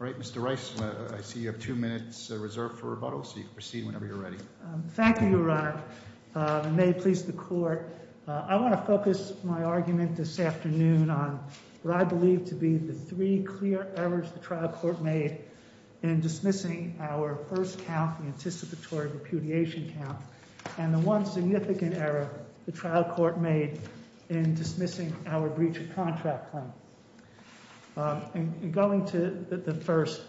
All right, Mr. Rice, I see you have two minutes reserved for rebuttal, so you can proceed whenever you're ready. Thank you, Your Honor, and may it please the Court. I want to focus my argument this afternoon on what I believe to be the three clear errors the trial court made in dismissing our first count, the anticipatory repudiation count, and the one significant error the trial court made in dismissing our breach of contract claim. In going to the first,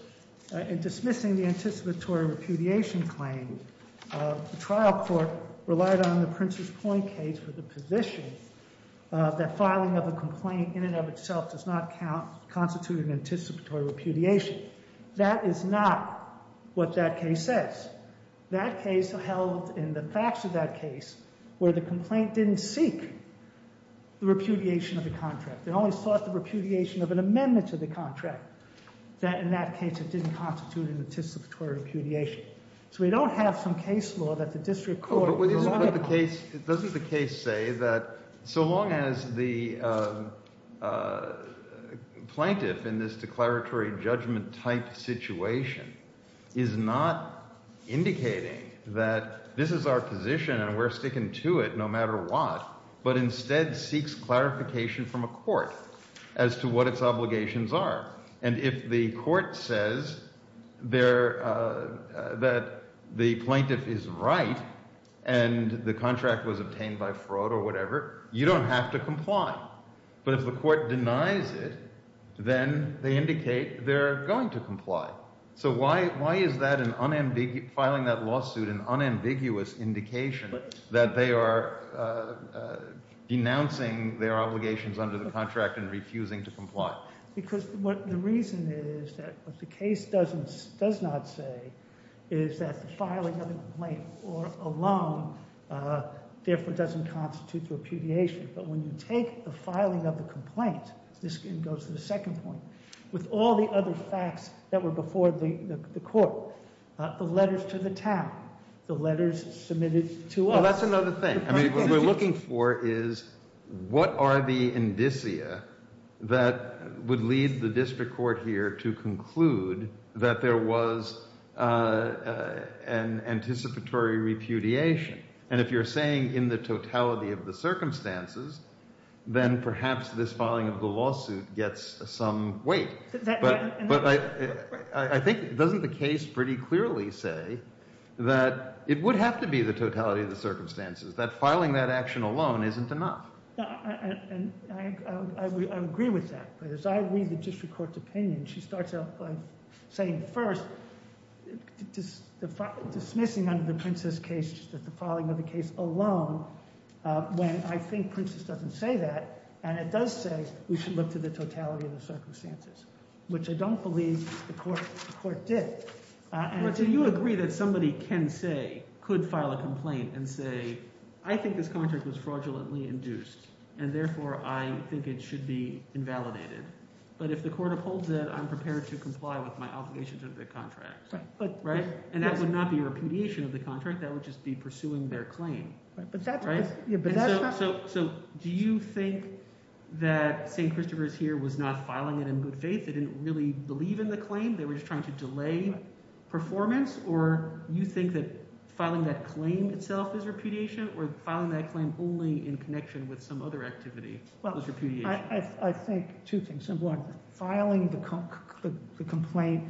in dismissing the anticipatory repudiation claim, the trial court relied on the Prince's Point case with the position that filing of a complaint in and of itself does not constitute an anticipatory repudiation. That is not what that case says. That case held in the facts of that case where the complaint didn't seek the repudiation of the contract. It only sought the repudiation of an amendment to the contract. That, in that case, it didn't constitute an anticipatory repudiation. So we don't have some case law that the district court— Doesn't the case say that so long as the plaintiff in this declaratory judgment-type situation is not indicating that this is our position and we're sticking to it no matter what, but instead seeks clarification from a court as to what its obligations are. And if the court says that the plaintiff is right and the contract was obtained by fraud or whatever, you don't have to comply. But if the court denies it, then they indicate they're going to comply. So why is filing that lawsuit an unambiguous indication that they are denouncing their obligations under the contract and refusing to comply? Because the reason is that what the case does not say is that the filing of a complaint alone therefore doesn't constitute repudiation. But when you take the filing of the complaint—this goes to the second point— with all the other facts that were before the court, the letters to the town, the letters submitted to us— Well, that's another thing. What we're looking for is what are the indicia that would lead the district court here to conclude that there was an anticipatory repudiation. And if you're saying in the totality of the circumstances, then perhaps this filing of the lawsuit gets some weight. But I think—doesn't the case pretty clearly say that it would have to be the totality of the circumstances, that filing that action alone isn't enough? I agree with that. As I read the district court's opinion, she starts out by saying, dismissing under the Princess case just the filing of the case alone, when I think Princess doesn't say that. And it does say we should look to the totality of the circumstances, which I don't believe the court did. Do you agree that somebody can say—could file a complaint and say, I think this contract was fraudulently induced, and therefore I think it should be invalidated. But if the court upholds it, I'm prepared to comply with my obligations under the contract. And that would not be repudiation of the contract. That would just be pursuing their claim. So do you think that St. Christopher's here was not filing it in good faith? They didn't really believe in the claim? They were just trying to delay performance? Or you think that filing that claim itself is repudiation? Or filing that claim only in connection with some other activity is repudiation? I think two things. One, filing the complaint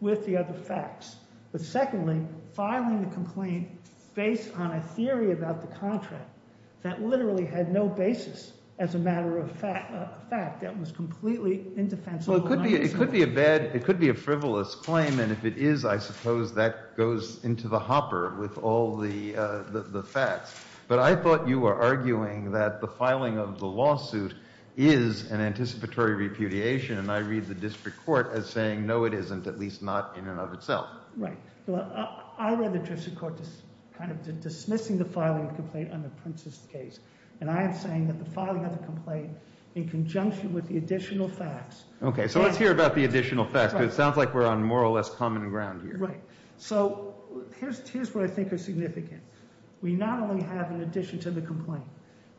with the other facts. But secondly, filing the complaint based on a theory about the contract that literally had no basis as a matter of fact, that was completely indefensible. Well, it could be a bad—it could be a frivolous claim. And if it is, I suppose that goes into the hopper with all the facts. But I thought you were arguing that the filing of the lawsuit is an anticipatory repudiation. And I read the district court as saying, no, it isn't, at least not in and of itself. Right. I read the district court as kind of dismissing the filing of the complaint under Prince's case. And I am saying that the filing of the complaint in conjunction with the additional facts— Okay, so let's hear about the additional facts. It sounds like we're on more or less common ground here. Right. So here's what I think is significant. We not only have an addition to the complaint.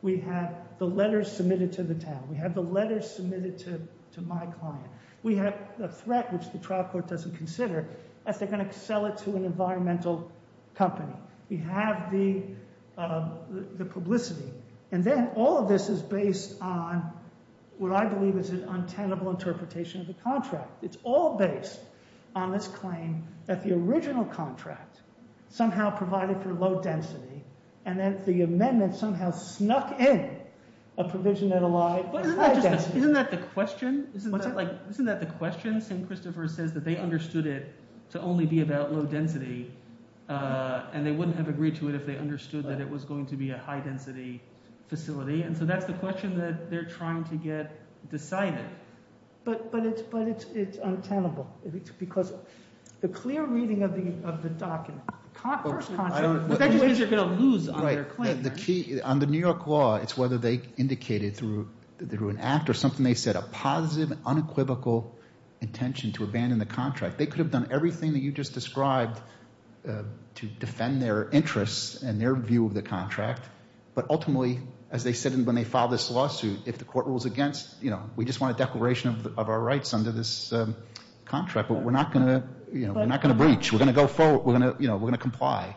We have the letters submitted to the town. We have the letters submitted to my client. We have a threat, which the trial court doesn't consider, as they're going to sell it to an environmental company. We have the publicity. And then all of this is based on what I believe is an untenable interpretation of the contract. It's all based on this claim that the original contract somehow provided for low density and that the amendment somehow snuck in a provision that allowed high density. Isn't that the question? Isn't that the question? St. Christopher says that they understood it to only be about low density, and they wouldn't have agreed to it if they understood that it was going to be a high-density facility. And so that's the question that they're trying to get decided. Right. But it's untenable because the clear reading of the document, the first concept, which I think you're going to lose on your claim. The key on the New York law, it's whether they indicated through an act or something they said, a positive, unequivocal intention to abandon the contract. They could have done everything that you just described to defend their interests and their view of the contract, but ultimately, as they said when they filed this lawsuit, if the court rules against, you know, we just want a declaration of our rights under this contract, but we're not going to breach. We're going to go forward. We're going to comply,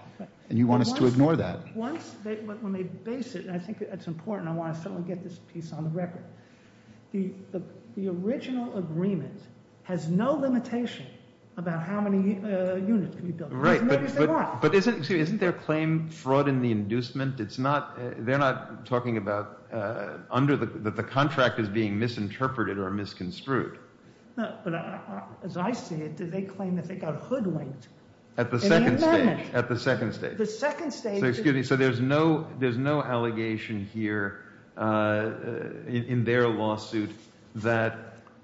and you want us to ignore that. Once they base it, and I think that's important. I want to certainly get this piece on the record. The original agreement has no limitation about how many units can be built. Right, but isn't their claim fraud in the inducement? They're not talking about that the contract is being misinterpreted or misconstrued. No, but as I see it, they claim that they got hoodwinked in the amendment. At the second stage. At the second stage. The second stage. So there's no allegation here in their lawsuit that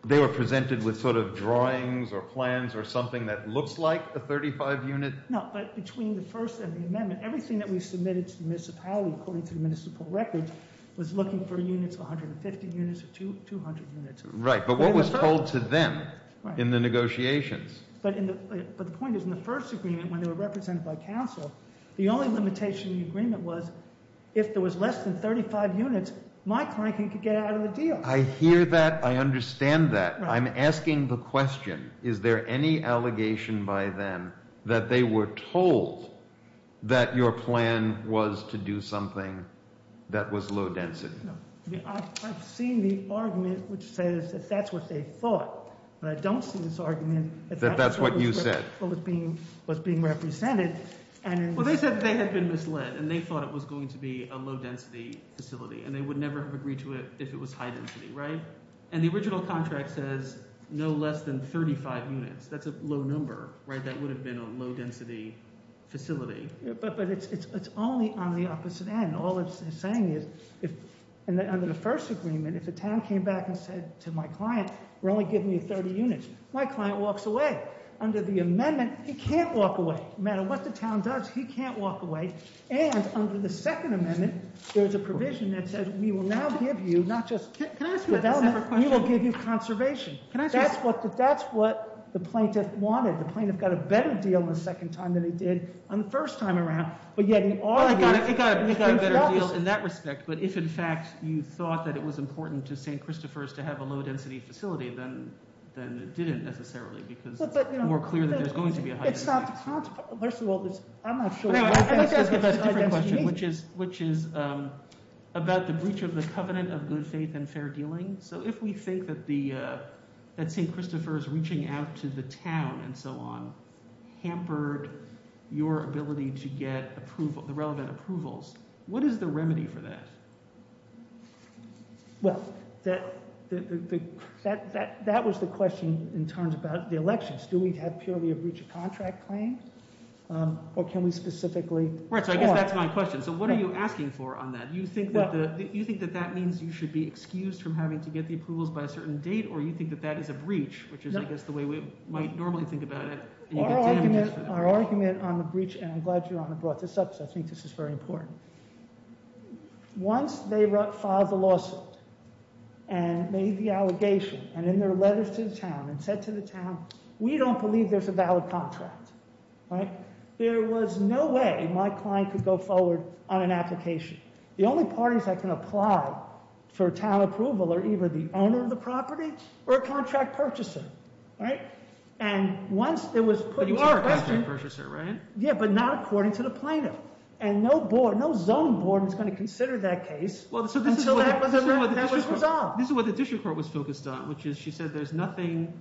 they were presented with sort of drawings or plans or something that looks like a 35 unit. No, but between the first and the amendment, everything that we submitted to the municipality, according to the municipal records, was looking for units of 150 units or 200 units. Right, but what was told to them in the negotiations? But the point is in the first agreement when they were represented by counsel, the only limitation in the agreement was if there was less than 35 units, my client could get out of the deal. I understand that. I'm asking the question. Is there any allegation by them that they were told that your plan was to do something that was low density? No. I've seen the argument which says that that's what they thought. But I don't see this argument that that's what was being represented. Well, they said they had been misled and they thought it was going to be a low density facility and they would never have agreed to it if it was high density, right? And the original contract says no less than 35 units. That's a low number, right? That would have been a low density facility. But it's only on the opposite end. All it's saying is under the first agreement, if the town came back and said to my client, we're only giving you 30 units, my client walks away. Under the amendment, he can't walk away. No matter what the town does, he can't walk away. And under the second amendment, there's a provision that says we will now give you not just development, we will give you conservation. That's what the plaintiff wanted. The plaintiff got a better deal the second time than he did on the first time around. But yet in our view, we got a better deal in that respect. But if, in fact, you thought that it was important to St. Christopher's to have a low density facility, then it didn't necessarily because it's more clear that there's going to be a high density facility. First of all, I'm not sure. I think that's a different question, which is about the breach of the covenant of good faith and fair dealing. So if we think that St. Christopher's reaching out to the town and so on hampered your ability to get the relevant approvals, what is the remedy for that? Well, that was the question in terms about the elections. Do we have purely a breach of contract claim or can we specifically? Right, so I guess that's my question. So what are you asking for on that? Do you think that that means you should be excused from having to get the approvals by a certain date or you think that that is a breach, which is, I guess, the way we might normally think about it? Our argument on the breach, and I'm glad Your Honor brought this up because I think this is very important. Once they filed the lawsuit and made the allegation and in their letters to the town and said to the town, we don't believe there's a valid contract, right? There was no way my client could go forward on an application. The only parties that can apply for town approval are either the owner of the property or a contract purchaser, right? And once it was put into question. But you are a contract purchaser, right? Yeah, but not according to the plaintiff. And no zoning board is going to consider that case until that was resolved. This is what the district court was focused on, which is she said there's nothing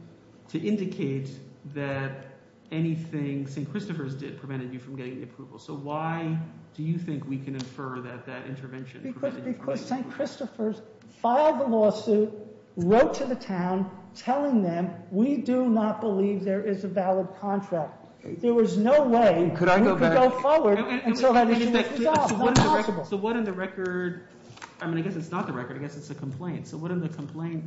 to indicate that anything St. Christopher's did prevented you from getting the approval. So why do you think we can infer that that intervention prevented you from getting the approval? Because St. Christopher's filed the lawsuit, wrote to the town, telling them we do not believe there is a valid contract. There was no way we could go forward until that issue was resolved. So what in the record? I mean, I guess it's not the record. I guess it's a complaint. So what in the complaint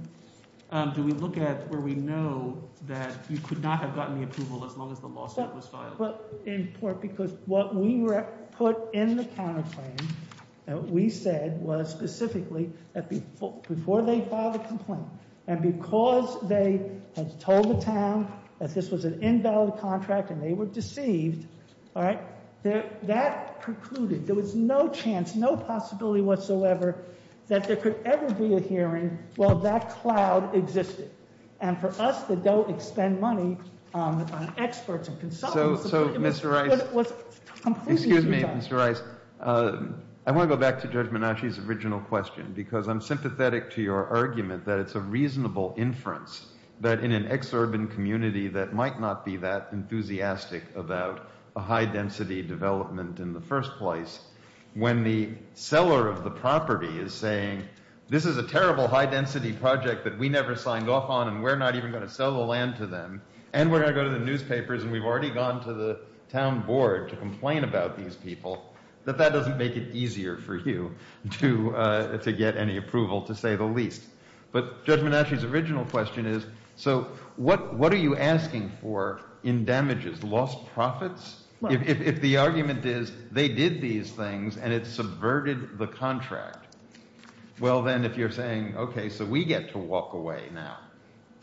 do we look at where we know that you could not have gotten the approval as long as the lawsuit was filed? Because what we put in the counterclaim that we said was specifically that before they filed a complaint and because they had told the town that this was an invalid contract and they were deceived. All right. That precluded there was no chance, no possibility whatsoever that there could ever be a hearing while that cloud existed. And for us that don't expend money on experts and consultants. So, Mr. Rice. Excuse me, Mr. Rice. I want to go back to Judge Menasci's original question because I'm sympathetic to your argument that it's a reasonable inference that in an exurban community that might not be that enthusiastic about a high-density development in the first place. When the seller of the property is saying, this is a terrible high-density project that we never signed off on and we're not even going to sell the land to them. And we're going to go to the newspapers and we've already gone to the town board to complain about these people, that that doesn't make it easier for you to get any approval to say the least. But Judge Menasci's original question is, so what are you asking for in damages? Lost profits? If the argument is they did these things and it subverted the contract, well then if you're saying, okay, so we get to walk away now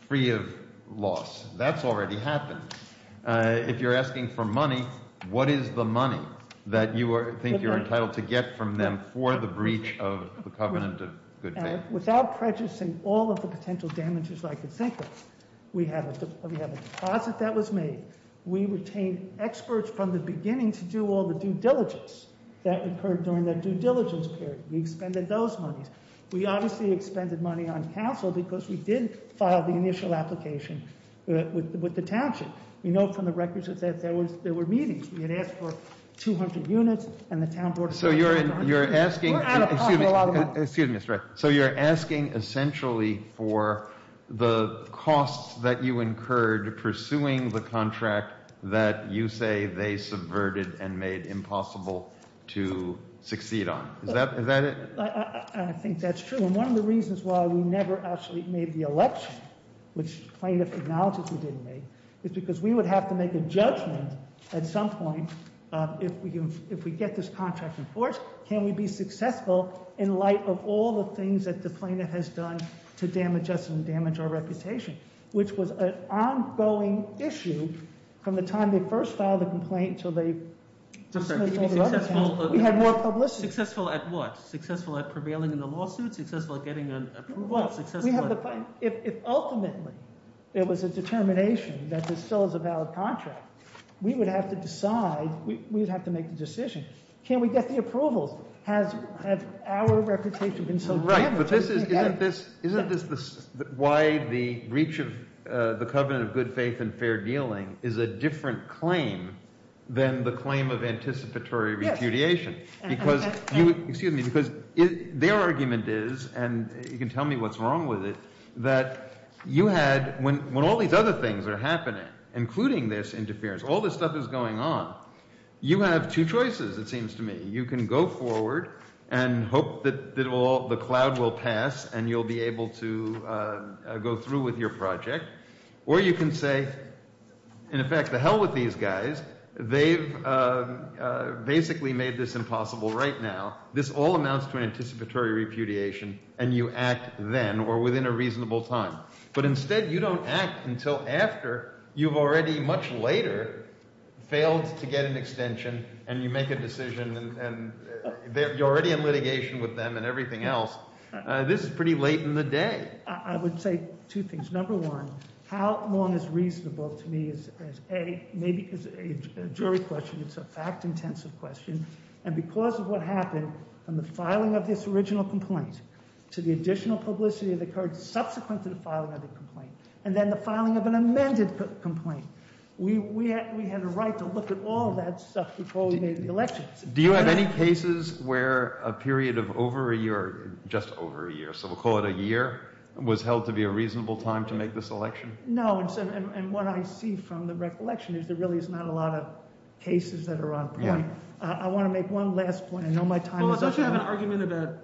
free of loss. That's already happened. If you're asking for money, what is the money that you think you're entitled to get from them for the breach of the covenant of good faith? Without prejudicing all of the potential damages I could think of, we have a deposit that was made. We retained experts from the beginning to do all the due diligence that occurred during that due diligence period. We expended those monies. We obviously expended money on council because we did file the initial application with the township. We know from the records that there were meetings. We had asked for 200 units and the town board- So you're asking- We're out of pocket a lot of money. Excuse me, Mr. Wright. So you're asking essentially for the costs that you incurred pursuing the contract that you say they subverted and made impossible to succeed on. Is that it? I think that's true. One of the reasons why we never actually made the election, which plaintiff acknowledges we didn't make, is because we would have to make a judgment at some point. If we get this contract in force, can we be successful in light of all the things that the plaintiff has done to damage us and damage our reputation? Which was an ongoing issue from the time they first filed the complaint until they- We had more publicity. Successful at what? If ultimately it was a determination that this still is a valid contract, we would have to decide. We would have to make the decision. Can we get the approvals? Has our reputation been so damaged- Right, but isn't this why the breach of the covenant of good faith and fair dealing is a different claim than the claim of anticipatory repudiation? Excuse me, because their argument is, and you can tell me what's wrong with it, that you had- When all these other things are happening, including this interference, all this stuff is going on, you have two choices, it seems to me. You can go forward and hope that the cloud will pass and you'll be able to go through with your project. Or you can say, in effect, the hell with these guys. They've basically made this impossible right now. This all amounts to anticipatory repudiation and you act then or within a reasonable time. But instead you don't act until after you've already much later failed to get an extension and you make a decision and you're already in litigation with them and everything else. This is pretty late in the day. I would say two things. Number one, how long is reasonable to me is, A, maybe it's a jury question, it's a fact-intensive question. And because of what happened, from the filing of this original complaint to the additional publicity that occurred subsequent to the filing of the complaint, and then the filing of an amended complaint, we had a right to look at all that stuff before we made the elections. Do you have any cases where a period of over a year – just over a year, so we'll call it a year – was held to be a reasonable time to make this election? No, and what I see from the recollection is there really is not a lot of cases that are on point. I want to make one last point. I know my time is up. Well, let's not have an argument about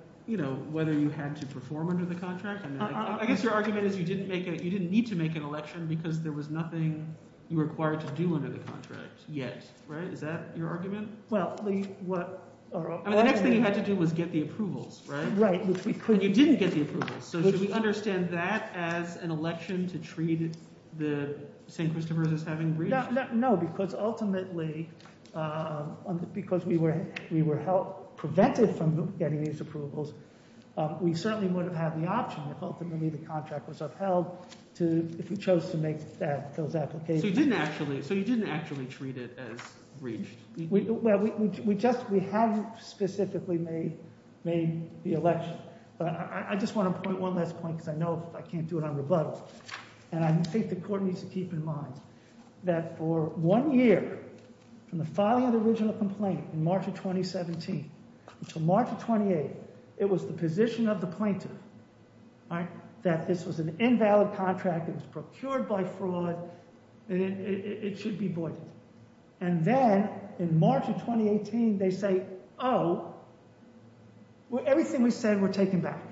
whether you had to perform under the contract. I guess your argument is you didn't need to make an election because there was nothing you were required to do under the contract yet. Is that your argument? Well – The next thing you had to do was get the approvals, right? Right. And you didn't get the approvals, so should we understand that as an election to treat the St. Christopher's as having breached? No, because ultimately – because we were prevented from getting these approvals, we certainly would have had the option if ultimately the contract was upheld to – if we chose to make those applications. So you didn't actually treat it as breached? Well, we just – we haven't specifically made the election. But I just want to point one last point because I know I can't do it on rebuttal. And I think the court needs to keep in mind that for one year from the filing of the original complaint in March of 2017 until March of 2018, it was the position of the plaintiff that this was an invalid contract. It was procured by fraud. It should be voided. And then in March of 2018, they say, oh, everything we said were taken back.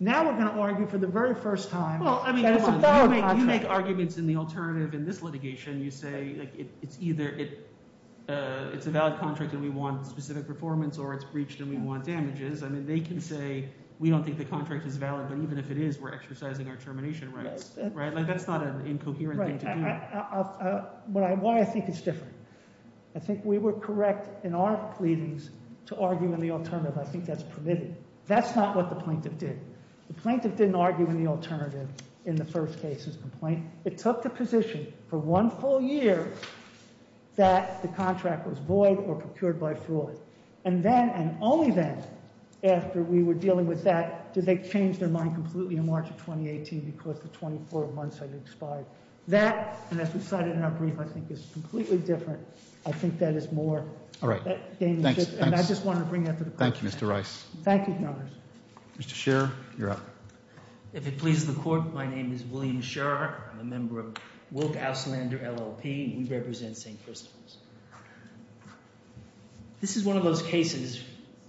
Now we're going to argue for the very first time that it's a valid contract. You make arguments in the alternative in this litigation. You say it's either – it's a valid contract and we want specific performance or it's breached and we want damages. I mean they can say we don't think the contract is valid, but even if it is, we're exercising our termination rights. That's not an incoherent thing to do. Why I think it's different. I think we were correct in our pleadings to argue in the alternative. I think that's permitted. That's not what the plaintiff did. The plaintiff didn't argue in the alternative in the first case's complaint. It took the position for one full year that the contract was void or procured by fraud. And then and only then after we were dealing with that did they change their mind completely in March of 2018 because the 24 months had expired. That, and as we cited in our brief, I think is completely different. I think that is more. All right. And I just want to bring that to the court. Thank you, Mr. Rice. Thank you. Mr. Scherer, you're up. If it pleases the court, my name is William Scherer. I'm a member of Wilk Auslander LLP. We represent St. Christopher's. This is one of those cases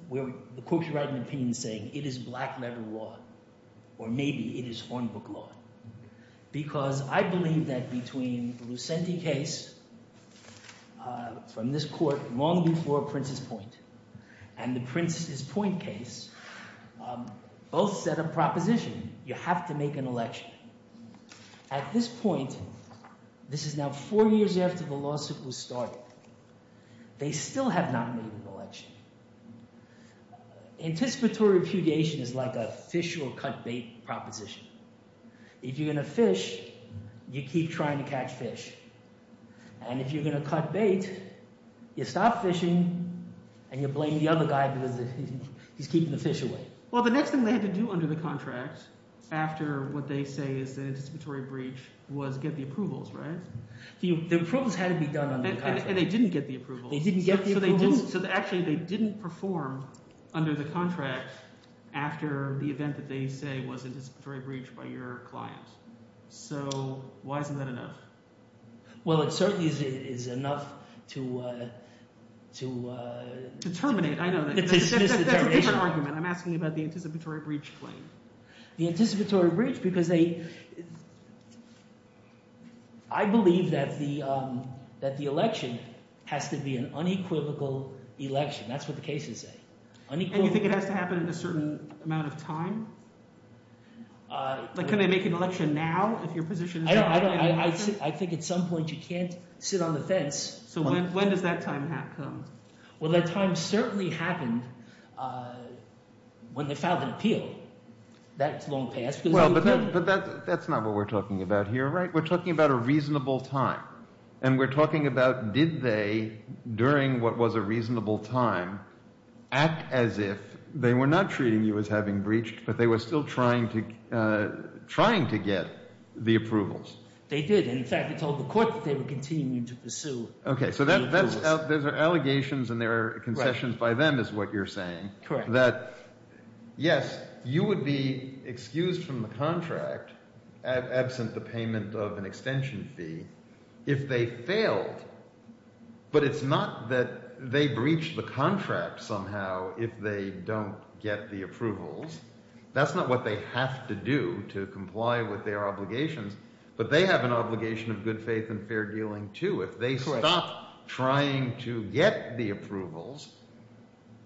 where the court is writing an opinion saying it is black-letter law or maybe it is hornbook law. Because I believe that between the Lucente case from this court long before Prince's Point and the Prince's Point case, both set a proposition. You have to make an election. At this point, this is now four years after the lawsuit was started. They still have not made an election. Anticipatory repudiation is like a fish will cut bait proposition. If you're going to fish, you keep trying to catch fish. And if you're going to cut bait, you stop fishing and you blame the other guy because he's keeping the fish away. Well, the next thing they had to do under the contract after what they say is an anticipatory breach was get the approvals, right? The approvals had to be done under the contract. And they didn't get the approvals. They didn't get the approvals. So actually they didn't perform under the contract after the event that they say was anticipatory breach by your client. So why isn't that enough? Well, it certainly is enough to – To terminate. I know that. To dismiss the termination. That's a different argument. I'm asking you about the anticipatory breach claim. The anticipatory breach because they – I believe that the election has to be an unequivocal election. That's what the cases say, unequivocal. And you think it has to happen in a certain amount of time? Like can they make an election now if your position is to make an election? I think at some point you can't sit on the fence. So when does that time come? Well, that time certainly happened when they filed an appeal. That's long past. But that's not what we're talking about here, right? We're talking about a reasonable time. And we're talking about did they, during what was a reasonable time, act as if they were not treating you as having breached but they were still trying to get the approvals? They did. And, in fact, they told the court that they were continuing to pursue the approvals. Okay, so that's – those are allegations and they're concessions by them is what you're saying. Correct. That, yes, you would be excused from the contract absent the payment of an extension fee if they failed. But it's not that they breached the contract somehow if they don't get the approvals. That's not what they have to do to comply with their obligations. But they have an obligation of good faith and fair dealing too. Correct. If they stop trying to get the approvals,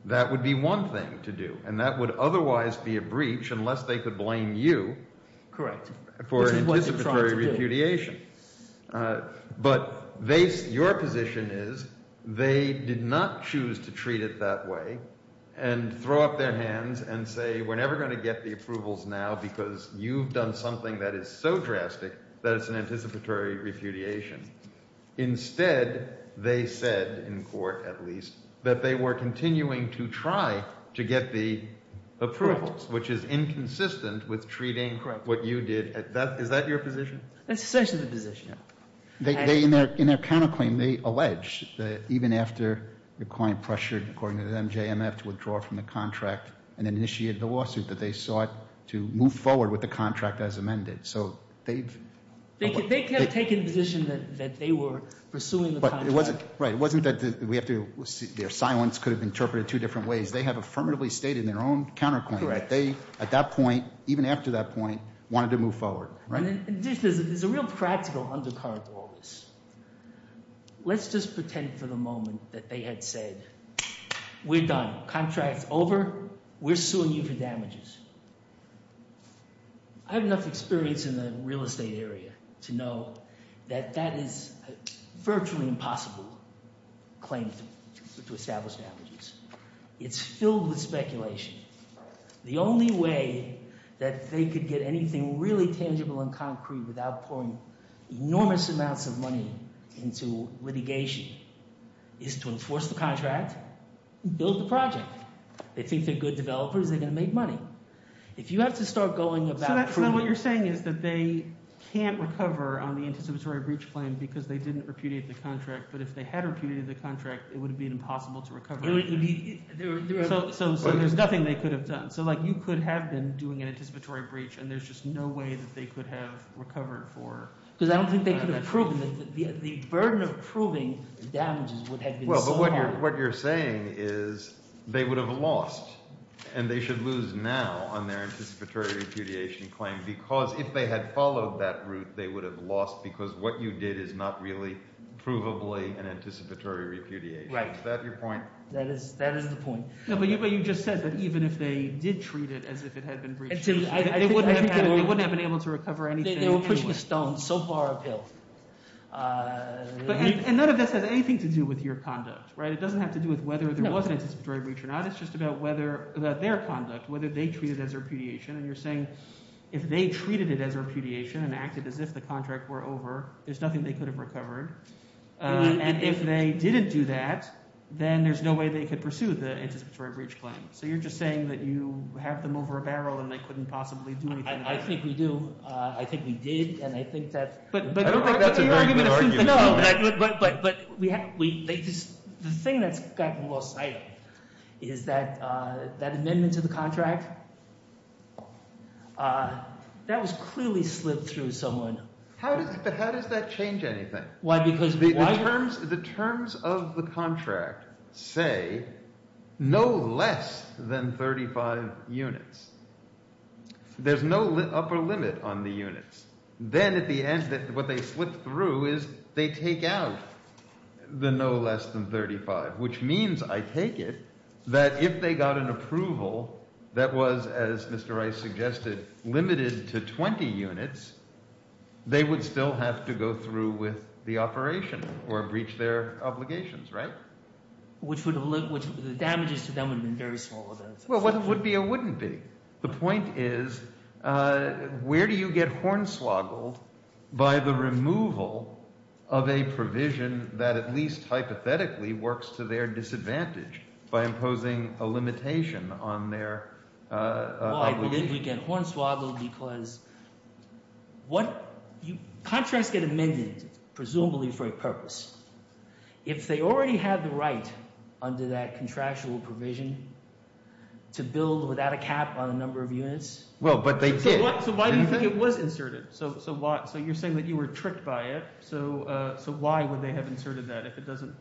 that would be one thing to do. And that would otherwise be a breach unless they could blame you for an anticipatory repudiation. Correct. This is what you're trying to do. But your position is they did not choose to treat it that way and throw up their hands and say we're never going to get the approvals now because you've done something that is so drastic that it's an anticipatory repudiation. Instead, they said, in court at least, that they were continuing to try to get the approvals, which is inconsistent with treating what you did. Is that your position? That's essentially the position. In their counterclaim, they allege that even after the client pressured, according to them, JMF to withdraw from the contract and initiated the lawsuit, that they sought to move forward with the contract as amended. They could have taken the position that they were pursuing the contract. Right. It wasn't that their silence could have been interpreted two different ways. They have affirmatively stated in their own counterclaim that they, at that point, even after that point, wanted to move forward. And there's a real practical undercard to all this. Let's just pretend for the moment that they had said we're done. Contract's over. We're suing you for damages. I have enough experience in the real estate area to know that that is a virtually impossible claim to establish damages. It's filled with speculation. The only way that they could get anything really tangible and concrete without pouring enormous amounts of money into litigation is to enforce the contract and build the project. They think they're good developers. They're going to make money. If you have to start going about proving— So then what you're saying is that they can't recover on the anticipatory breach claim because they didn't repudiate the contract. But if they had repudiated the contract, it would have been impossible to recover. So there's nothing they could have done. So you could have been doing an anticipatory breach, and there's just no way that they could have recovered for— Because I don't think they could have proven it. The burden of proving damages would have been so high. So what you're saying is they would have lost, and they should lose now on their anticipatory repudiation claim because if they had followed that route, they would have lost because what you did is not really provably an anticipatory repudiation. Right. Is that your point? That is the point. But you just said that even if they did treat it as if it had been breached, they wouldn't have been able to recover anything anyway. They were pushing a stone so far uphill. And none of this has anything to do with your conduct. It doesn't have to do with whether there was an anticipatory breach or not. It's just about whether—about their conduct, whether they treated it as repudiation. And you're saying if they treated it as repudiation and acted as if the contract were over, there's nothing they could have recovered. And if they didn't do that, then there's no way they could pursue the anticipatory breach claim. So you're just saying that you have them over a barrel and they couldn't possibly do anything. I think we do. I think we did, and I think that— I don't think that's a very good argument at all. But the thing that's gotten lost, I think, is that that amendment to the contract, that was clearly slipped through someone. How does that change anything? Why? Because why— The terms of the contract say no less than 35 units. There's no upper limit on the units. Then at the end, what they slip through is they take out the no less than 35, which means, I take it, that if they got an approval that was, as Mr. Rice suggested, limited to 20 units, they would still have to go through with the operation or breach their obligations, right? Which would have—the damages to them would have been very small. Well, whether it would be or wouldn't be, the point is where do you get hornswoggled by the removal of a provision that at least hypothetically works to their disadvantage by imposing a limitation on their obligation? Well, I believe we get hornswoggled because what—contracts get amended presumably for a purpose. If they already had the right under that contractual provision to build without a cap on a number of units— Well, but they did. So why do you think it was inserted? So you're saying that you were tricked by it. So why would they have inserted that if it doesn't—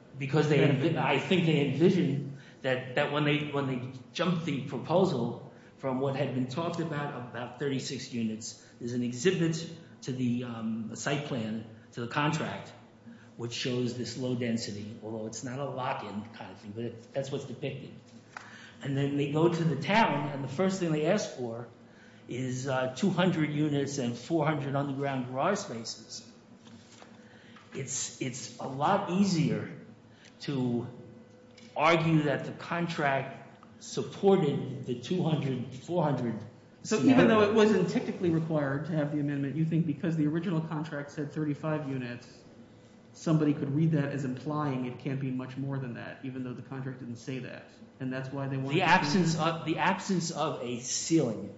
Although it's not a lock-in kind of thing, but that's what's depicted. And then they go to the town, and the first thing they ask for is 200 units and 400 underground garage spaces. It's a lot easier to argue that the contract supported the 200, 400 scenario. So even though it wasn't technically required to have the amendment, you think because the original contract said 35 units, somebody could read that as implying it can't be much more than that, even though the contract didn't say that. And that's why they wanted to— The absence of a ceiling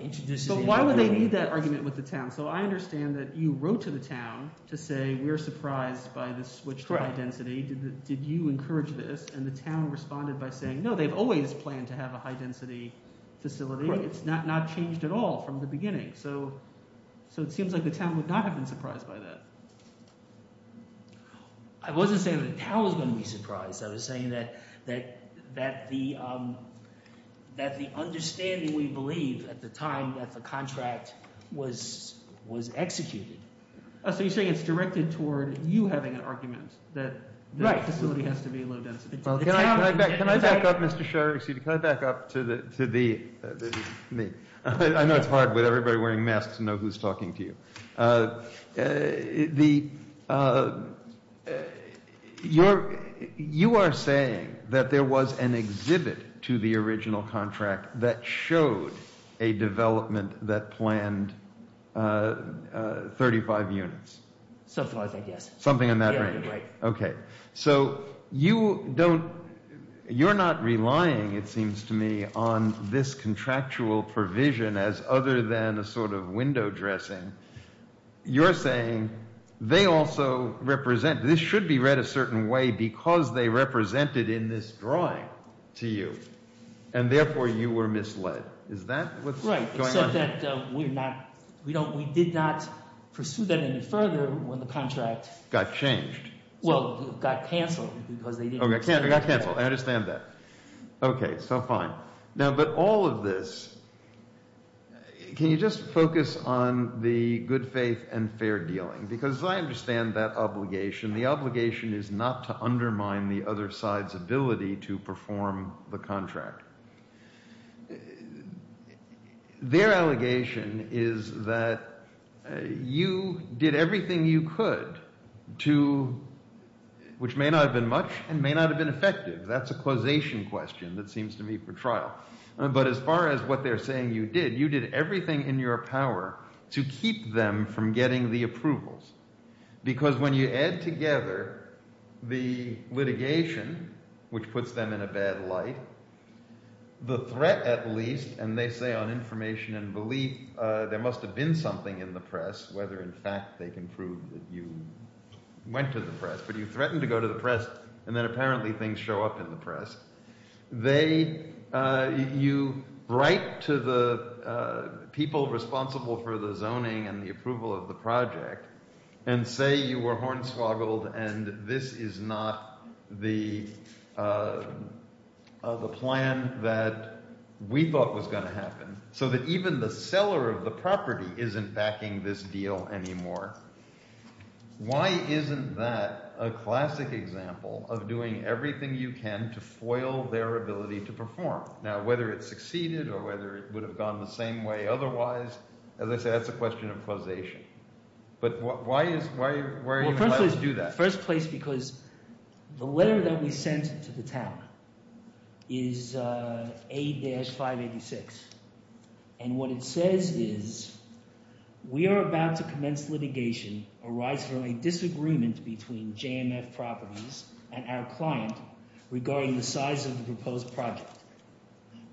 introduces— So why would they need that argument with the town? So I understand that you wrote to the town to say we're surprised by the switch to high density. Did you encourage this? And the town responded by saying, no, they've always planned to have a high-density facility. It's not changed at all from the beginning. So it seems like the town would not have been surprised by that. I wasn't saying that the town was going to be surprised. I was saying that the understanding, we believe, at the time that the contract was executed— So you're saying it's directed toward you having an argument that the facility has to be low density. Can I back up, Mr. Sherry? Can I back up to the—I know it's hard with everybody wearing masks to know who's talking to you. You are saying that there was an exhibit to the original contract that showed a development that planned 35 units. Something like that, yes. Something in that range. Okay. So you don't—you're not relying, it seems to me, on this contractual provision as other than a sort of window dressing. You're saying they also represent—this should be read a certain way because they represented in this drawing to you. And therefore, you were misled. Is that what's going on here? Right, except that we did not pursue that any further when the contract— Got changed. Well, got canceled because they didn't— Okay, got canceled. I understand that. Okay, so fine. Now, but all of this—can you just focus on the good faith and fair dealing? Because I understand that obligation. The obligation is not to undermine the other side's ability to perform the contract. Their allegation is that you did everything you could to—which may not have been much and may not have been effective. That's a causation question, it seems to me, for trial. But as far as what they're saying you did, you did everything in your power to keep them from getting the approvals. Because when you add together the litigation, which puts them in a bad light, the threat at least, and they say on information and belief, there must have been something in the press, whether in fact they can prove that you went to the press. But you threatened to go to the press, and then apparently things show up in the press. They—you write to the people responsible for the zoning and the approval of the project and say you were hornswoggled and this is not the plan that we thought was going to happen, so that even the seller of the property isn't backing this deal anymore. Why isn't that a classic example of doing everything you can to foil their ability to perform? Now, whether it succeeded or whether it would have gone the same way otherwise, as I said, that's a question of causation. But why is—why are you allowed to do that? First place because the letter that we sent to the town is A-586, and what it says is we are about to commence litigation arising from a disagreement between JMF Properties and our client regarding the size of the proposed project.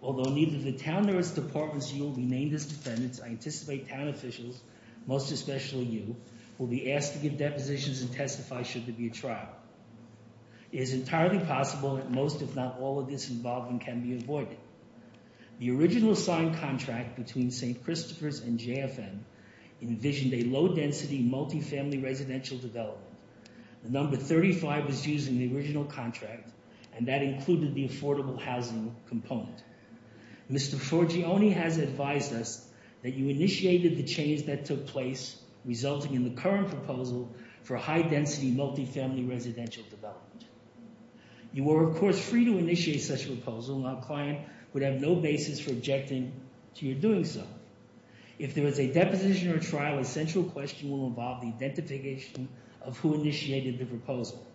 Although neither the town nor its departments yield will be named as defendants, I anticipate town officials, most especially you, will be asked to give depositions and testify should there be a trial. It is entirely possible that most, if not all, of this involvement can be avoided. The original signed contract between St. Christopher's and JFM envisioned a low-density, multifamily residential development. The number 35 was used in the original contract, and that included the affordable housing component. Mr. Forgione has advised us that you initiated the change that took place, resulting in the current proposal for high-density, multifamily residential development. You were, of course, free to initiate such a proposal, and our client would have no basis for objecting to your doing so. If there was a deposition or trial, a central question will involve the identification of who initiated the proposal.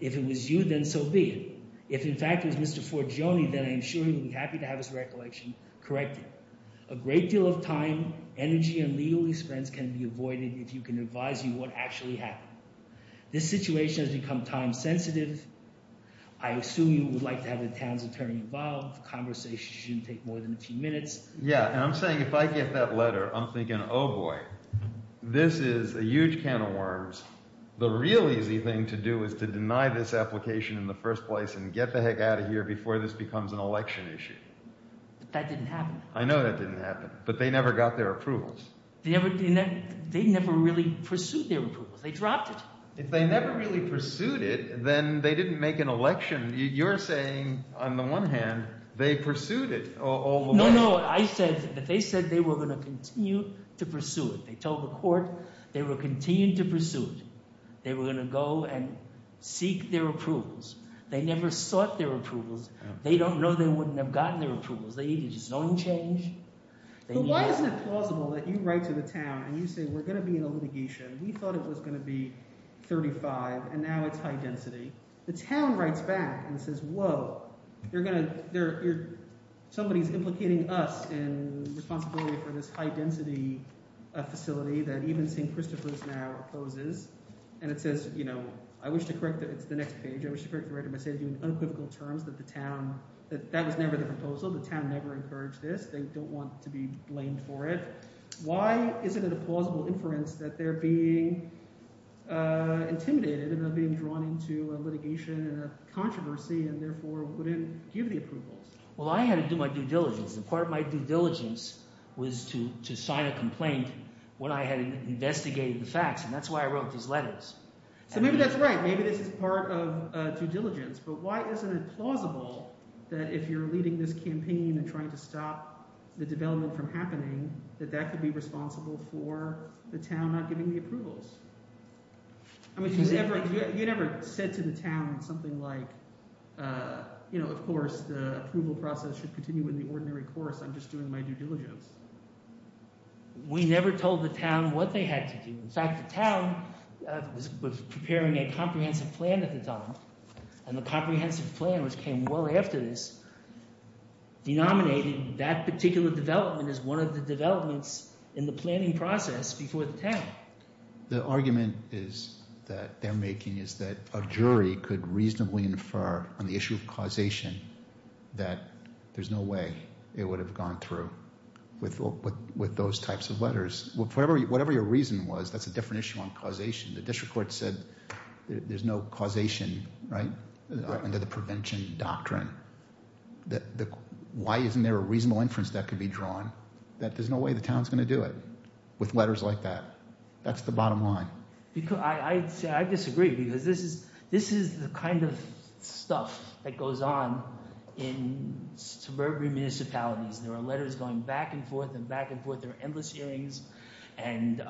If it was you, then so be it. If, in fact, it was Mr. Forgione, then I am sure he would be happy to have his recollection corrected. A great deal of time, energy, and legal expense can be avoided if you can advise you what actually happened. This situation has become time-sensitive. I assume you would like to have the town's attorney involved. Conversations shouldn't take more than a few minutes. Yeah, and I'm saying if I get that letter, I'm thinking, oh boy, this is a huge can of worms. The real easy thing to do is to deny this application in the first place and get the heck out of here before this becomes an election issue. But that didn't happen. I know that didn't happen, but they never got their approvals. They never really pursued their approvals. They dropped it. If they never really pursued it, then they didn't make an election. You're saying on the one hand they pursued it all along. No, no. I said that they said they were going to continue to pursue it. They told the court they were continuing to pursue it. They were going to go and seek their approvals. They never sought their approvals. They don't know they wouldn't have gotten their approvals. They needed zone change. But why isn't it plausible that you write to the town and you say we're going to be in a litigation. We thought it was going to be 35, and now it's high density. The town writes back and says, whoa, you're going to – somebody is implicating us in responsibility for this high density facility that even St. Christopher's now opposes. And it says, I wish to correct – it's the next page. I wish to correct the writer by saying in unequivocal terms that the town – that that was never the proposal. The town never encouraged this. They don't want to be blamed for it. Why isn't it a plausible inference that they're being intimidated and they're being drawn into a litigation and a controversy and therefore wouldn't give the approvals? Well, I had to do my due diligence, and part of my due diligence was to sign a complaint when I had investigated the facts, and that's why I wrote these letters. So maybe that's right. Maybe this is part of due diligence, but why isn't it plausible that if you're leading this campaign and trying to stop the development from happening, that that could be responsible for the town not giving the approvals? I mean you never said to the town something like, of course, the approval process should continue in the ordinary course. I'm just doing my due diligence. We never told the town what they had to do. In fact, the town was preparing a comprehensive plan at the time, and the comprehensive plan, which came well after this, denominated that particular development as one of the developments in the planning process before the town. The argument that they're making is that a jury could reasonably infer on the issue of causation that there's no way it would have gone through with those types of letters. Whatever your reason was, that's a different issue on causation. The district court said there's no causation under the prevention doctrine. Why isn't there a reasonable inference that could be drawn that there's no way the town is going to do it with letters like that? That's the bottom line. I disagree because this is the kind of stuff that goes on in suburban municipalities. And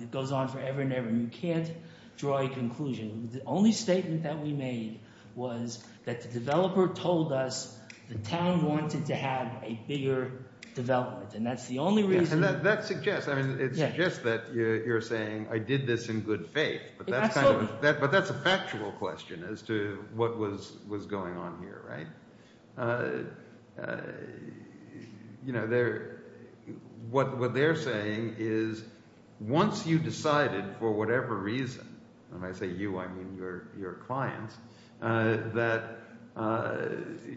it goes on forever and ever. You can't draw a conclusion. The only statement that we made was that the developer told us the town wanted to have a bigger development, and that's the only reason. And that suggests – I mean it suggests that you're saying I did this in good faith, but that's a factual question as to what was going on here, right? What they're saying is once you decided for whatever reason – and when I say you, I mean your clients – that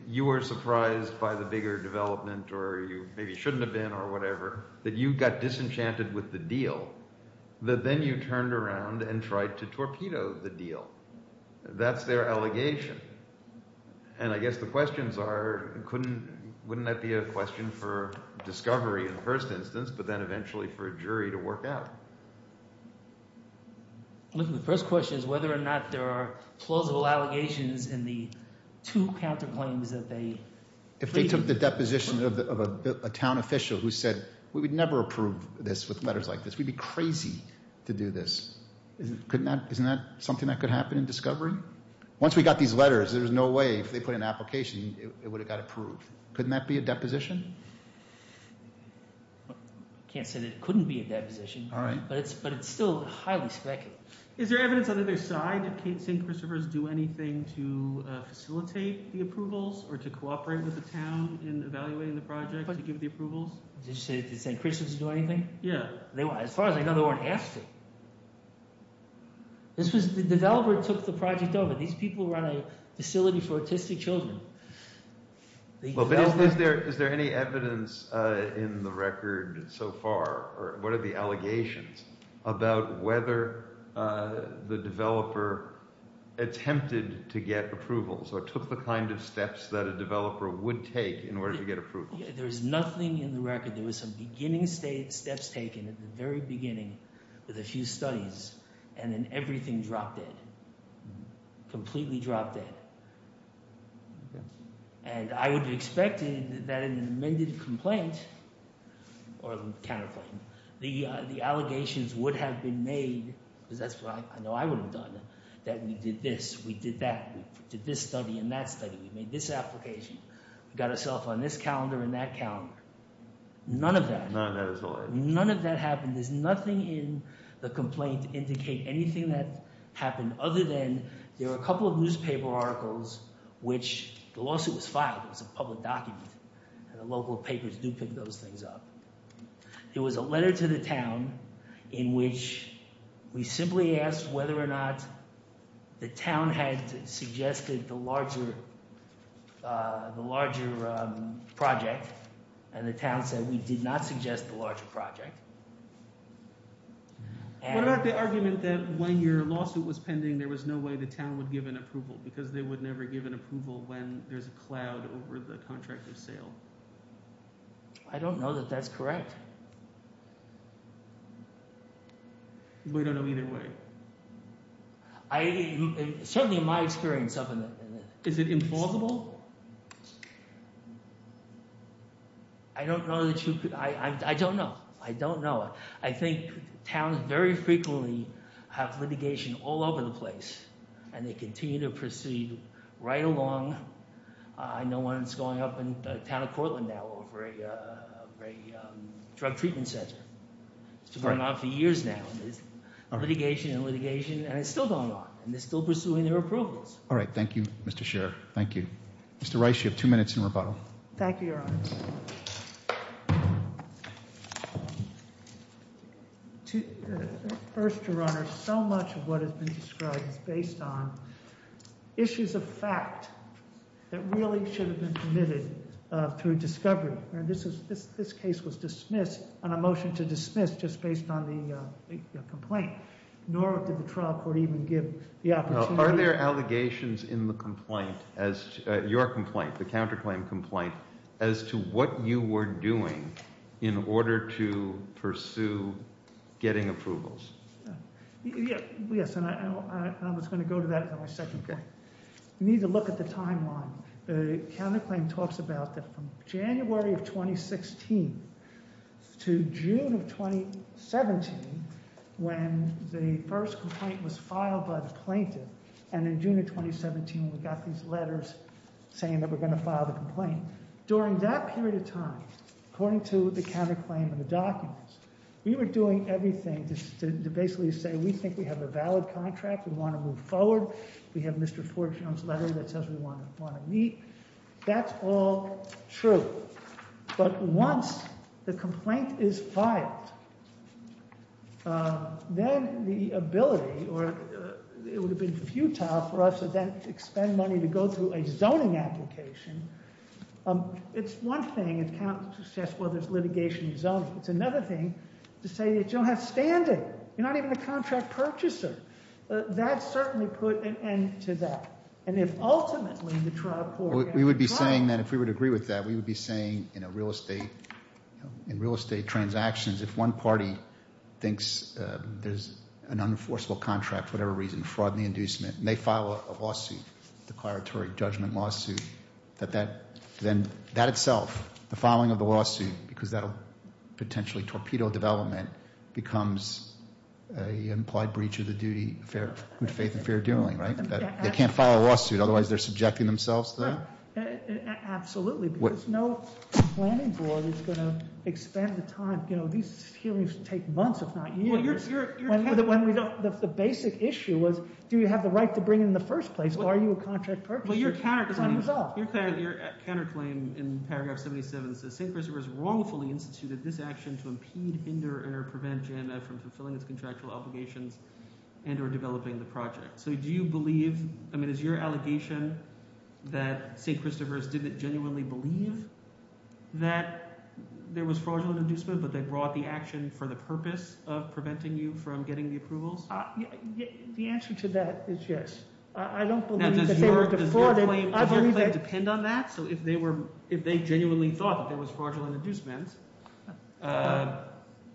you were surprised by the bigger development or you maybe shouldn't have been or whatever, that you got disenchanted with the deal, that then you turned around and tried to torpedo the deal. That's their allegation. And I guess the questions are couldn't – wouldn't that be a question for discovery in the first instance but then eventually for a jury to work out? The first question is whether or not there are plausible allegations in the two counterclaims that they created. If they took the deposition of a town official who said we would never approve this with letters like this. We'd be crazy to do this. Once we got these letters, there was no way if they put in an application it would have got approved. Couldn't that be a deposition? I can't say that it couldn't be a deposition. All right. But it's still highly speculative. Is there evidence on either side that St. Christopher's do anything to facilitate the approvals or to cooperate with the town in evaluating the project to give the approvals? Did St. Christopher's do anything? Yeah. As far as I know, they weren't asked to. This was – the developer took the project over. These people run a facility for autistic children. Is there any evidence in the record so far or what are the allegations about whether the developer attempted to get approval? So it took the kind of steps that a developer would take in order to get approval. There's nothing in the record. There was some beginning steps taken at the very beginning with a few studies, and then everything dropped dead, completely dropped dead. And I would have expected that in an amended complaint or a counterclaim, the allegations would have been made because that's what I know I would have done, that we did this, we did that. We did this study and that study. We made this application. We got ourself on this calendar and that calendar. None of that. None of that at all. None of that happened. There's nothing in the complaint to indicate anything that happened other than there were a couple of newspaper articles, which the lawsuit was filed. It was a public document, and the local papers do pick those things up. It was a letter to the town in which we simply asked whether or not the town had suggested the larger project, and the town said we did not suggest the larger project. What about the argument that when your lawsuit was pending, there was no way the town would give an approval because they would never give an approval when there's a cloud over the contract of sale? I don't know that that's correct. We don't know either way. Certainly in my experience. Is it implausible? I don't know. I don't know. I don't know. I think towns very frequently have litigation all over the place, and they continue to proceed right along. I know one that's going up in the town of Cortland now over a drug treatment center. It's been going on for years now. There's litigation and litigation, and it's still going on, and they're still pursuing their approvals. All right. Thank you, Mr. Scherer. Thank you. Mr. Rice, you have two minutes in rebuttal. Thank you, Your Honor. First, Your Honor, so much of what has been described is based on issues of fact that really should have been committed through discovery. This case was dismissed on a motion to dismiss just based on the complaint, nor did the trial court even give the opportunity. Are there allegations in the complaint, your complaint, the counterclaim complaint, as to what you were doing in order to pursue getting approvals? Yes, and I was going to go to that in my second point. You need to look at the timeline. The counterclaim talks about that from January of 2016 to June of 2017, when the first complaint was filed by the plaintiff, and in June of 2017, we got these letters saying that we're going to file the complaint. During that period of time, according to the counterclaim and the documents, we were doing everything to basically say we think we have a valid contract, we want to move forward. We have Mr. Ford's letter that says we want to meet. That's all true. But once the complaint is filed, then the ability, or it would have been futile for us to then expend money to go through a zoning application. It's one thing to say, well, there's litigation and zoning. It's another thing to say that you don't have standing. You're not even a contract purchaser. That's certainly put an end to that. And if ultimately the trial program— We would be saying that if we would agree with that, we would be saying in a real estate, in real estate transactions, if one party thinks there's an unenforceable contract for whatever reason, fraud in the inducement, and they file a lawsuit, declaratory judgment lawsuit, then that itself, the filing of the lawsuit, because that'll potentially torpedo development, becomes an implied breach of the duty of good faith and fair doing, right? They can't file a lawsuit. Otherwise, they're subjecting themselves to that? Absolutely, because no planning board is going to expend the time. These hearings take months, if not years. The basic issue was do you have the right to bring it in the first place, or are you a contract purchaser? Your counterclaim in paragraph 77 says, St. Christopher's wrongfully instituted this action to impede, hinder, or prevent JANMA from fulfilling its contractual obligations and or developing the project. So do you believe—I mean is your allegation that St. Christopher's didn't genuinely believe that there was fraudulent inducement, but they brought the action for the purpose of preventing you from getting the approvals? The answer to that is yes. I don't believe that they were defrauded. Does your claim depend on that? So if they genuinely thought that there was fraudulent inducement and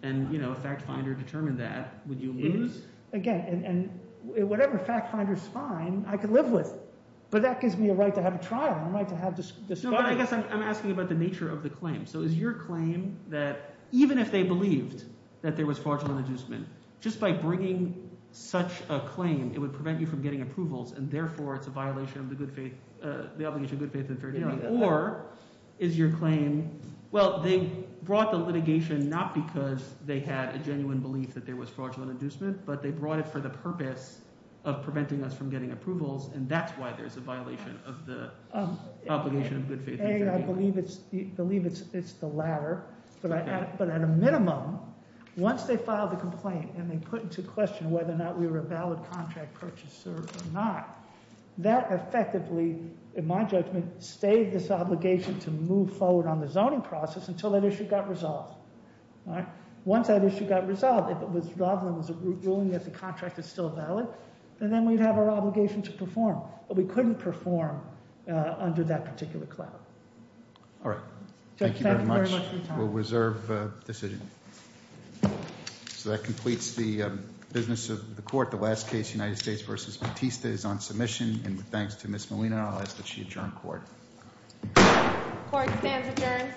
a fact finder determined that, would you lose? Again, whatever fact finder's find, I could live with. But that gives me a right to have a trial and a right to have this— No, but I guess I'm asking about the nature of the claim. So is your claim that even if they believed that there was fraudulent inducement, just by bringing such a claim, it would prevent you from getting approvals, and therefore it's a violation of the obligation of good faith and fair dealing? Or is your claim, well, they brought the litigation not because they had a genuine belief that there was fraudulent inducement, but they brought it for the purpose of preventing us from getting approvals, and that's why there's a violation of the obligation of good faith and fair dealing. I believe it's the latter. But at a minimum, once they filed the complaint and they put into question whether or not we were a valid contract purchaser or not, that effectively, in my judgment, stayed this obligation to move forward on the zoning process until that issue got resolved. Once that issue got resolved, if it was a ruling that the contract is still valid, then we'd have our obligation to perform. But we couldn't perform under that particular cloud. All right. Thank you very much. We'll reserve decision. So that completes the business of the court. The last case, United States v. Batista, is on submission. And thanks to Ms. Molina, I'll ask that she adjourn court. Court stands adjourned.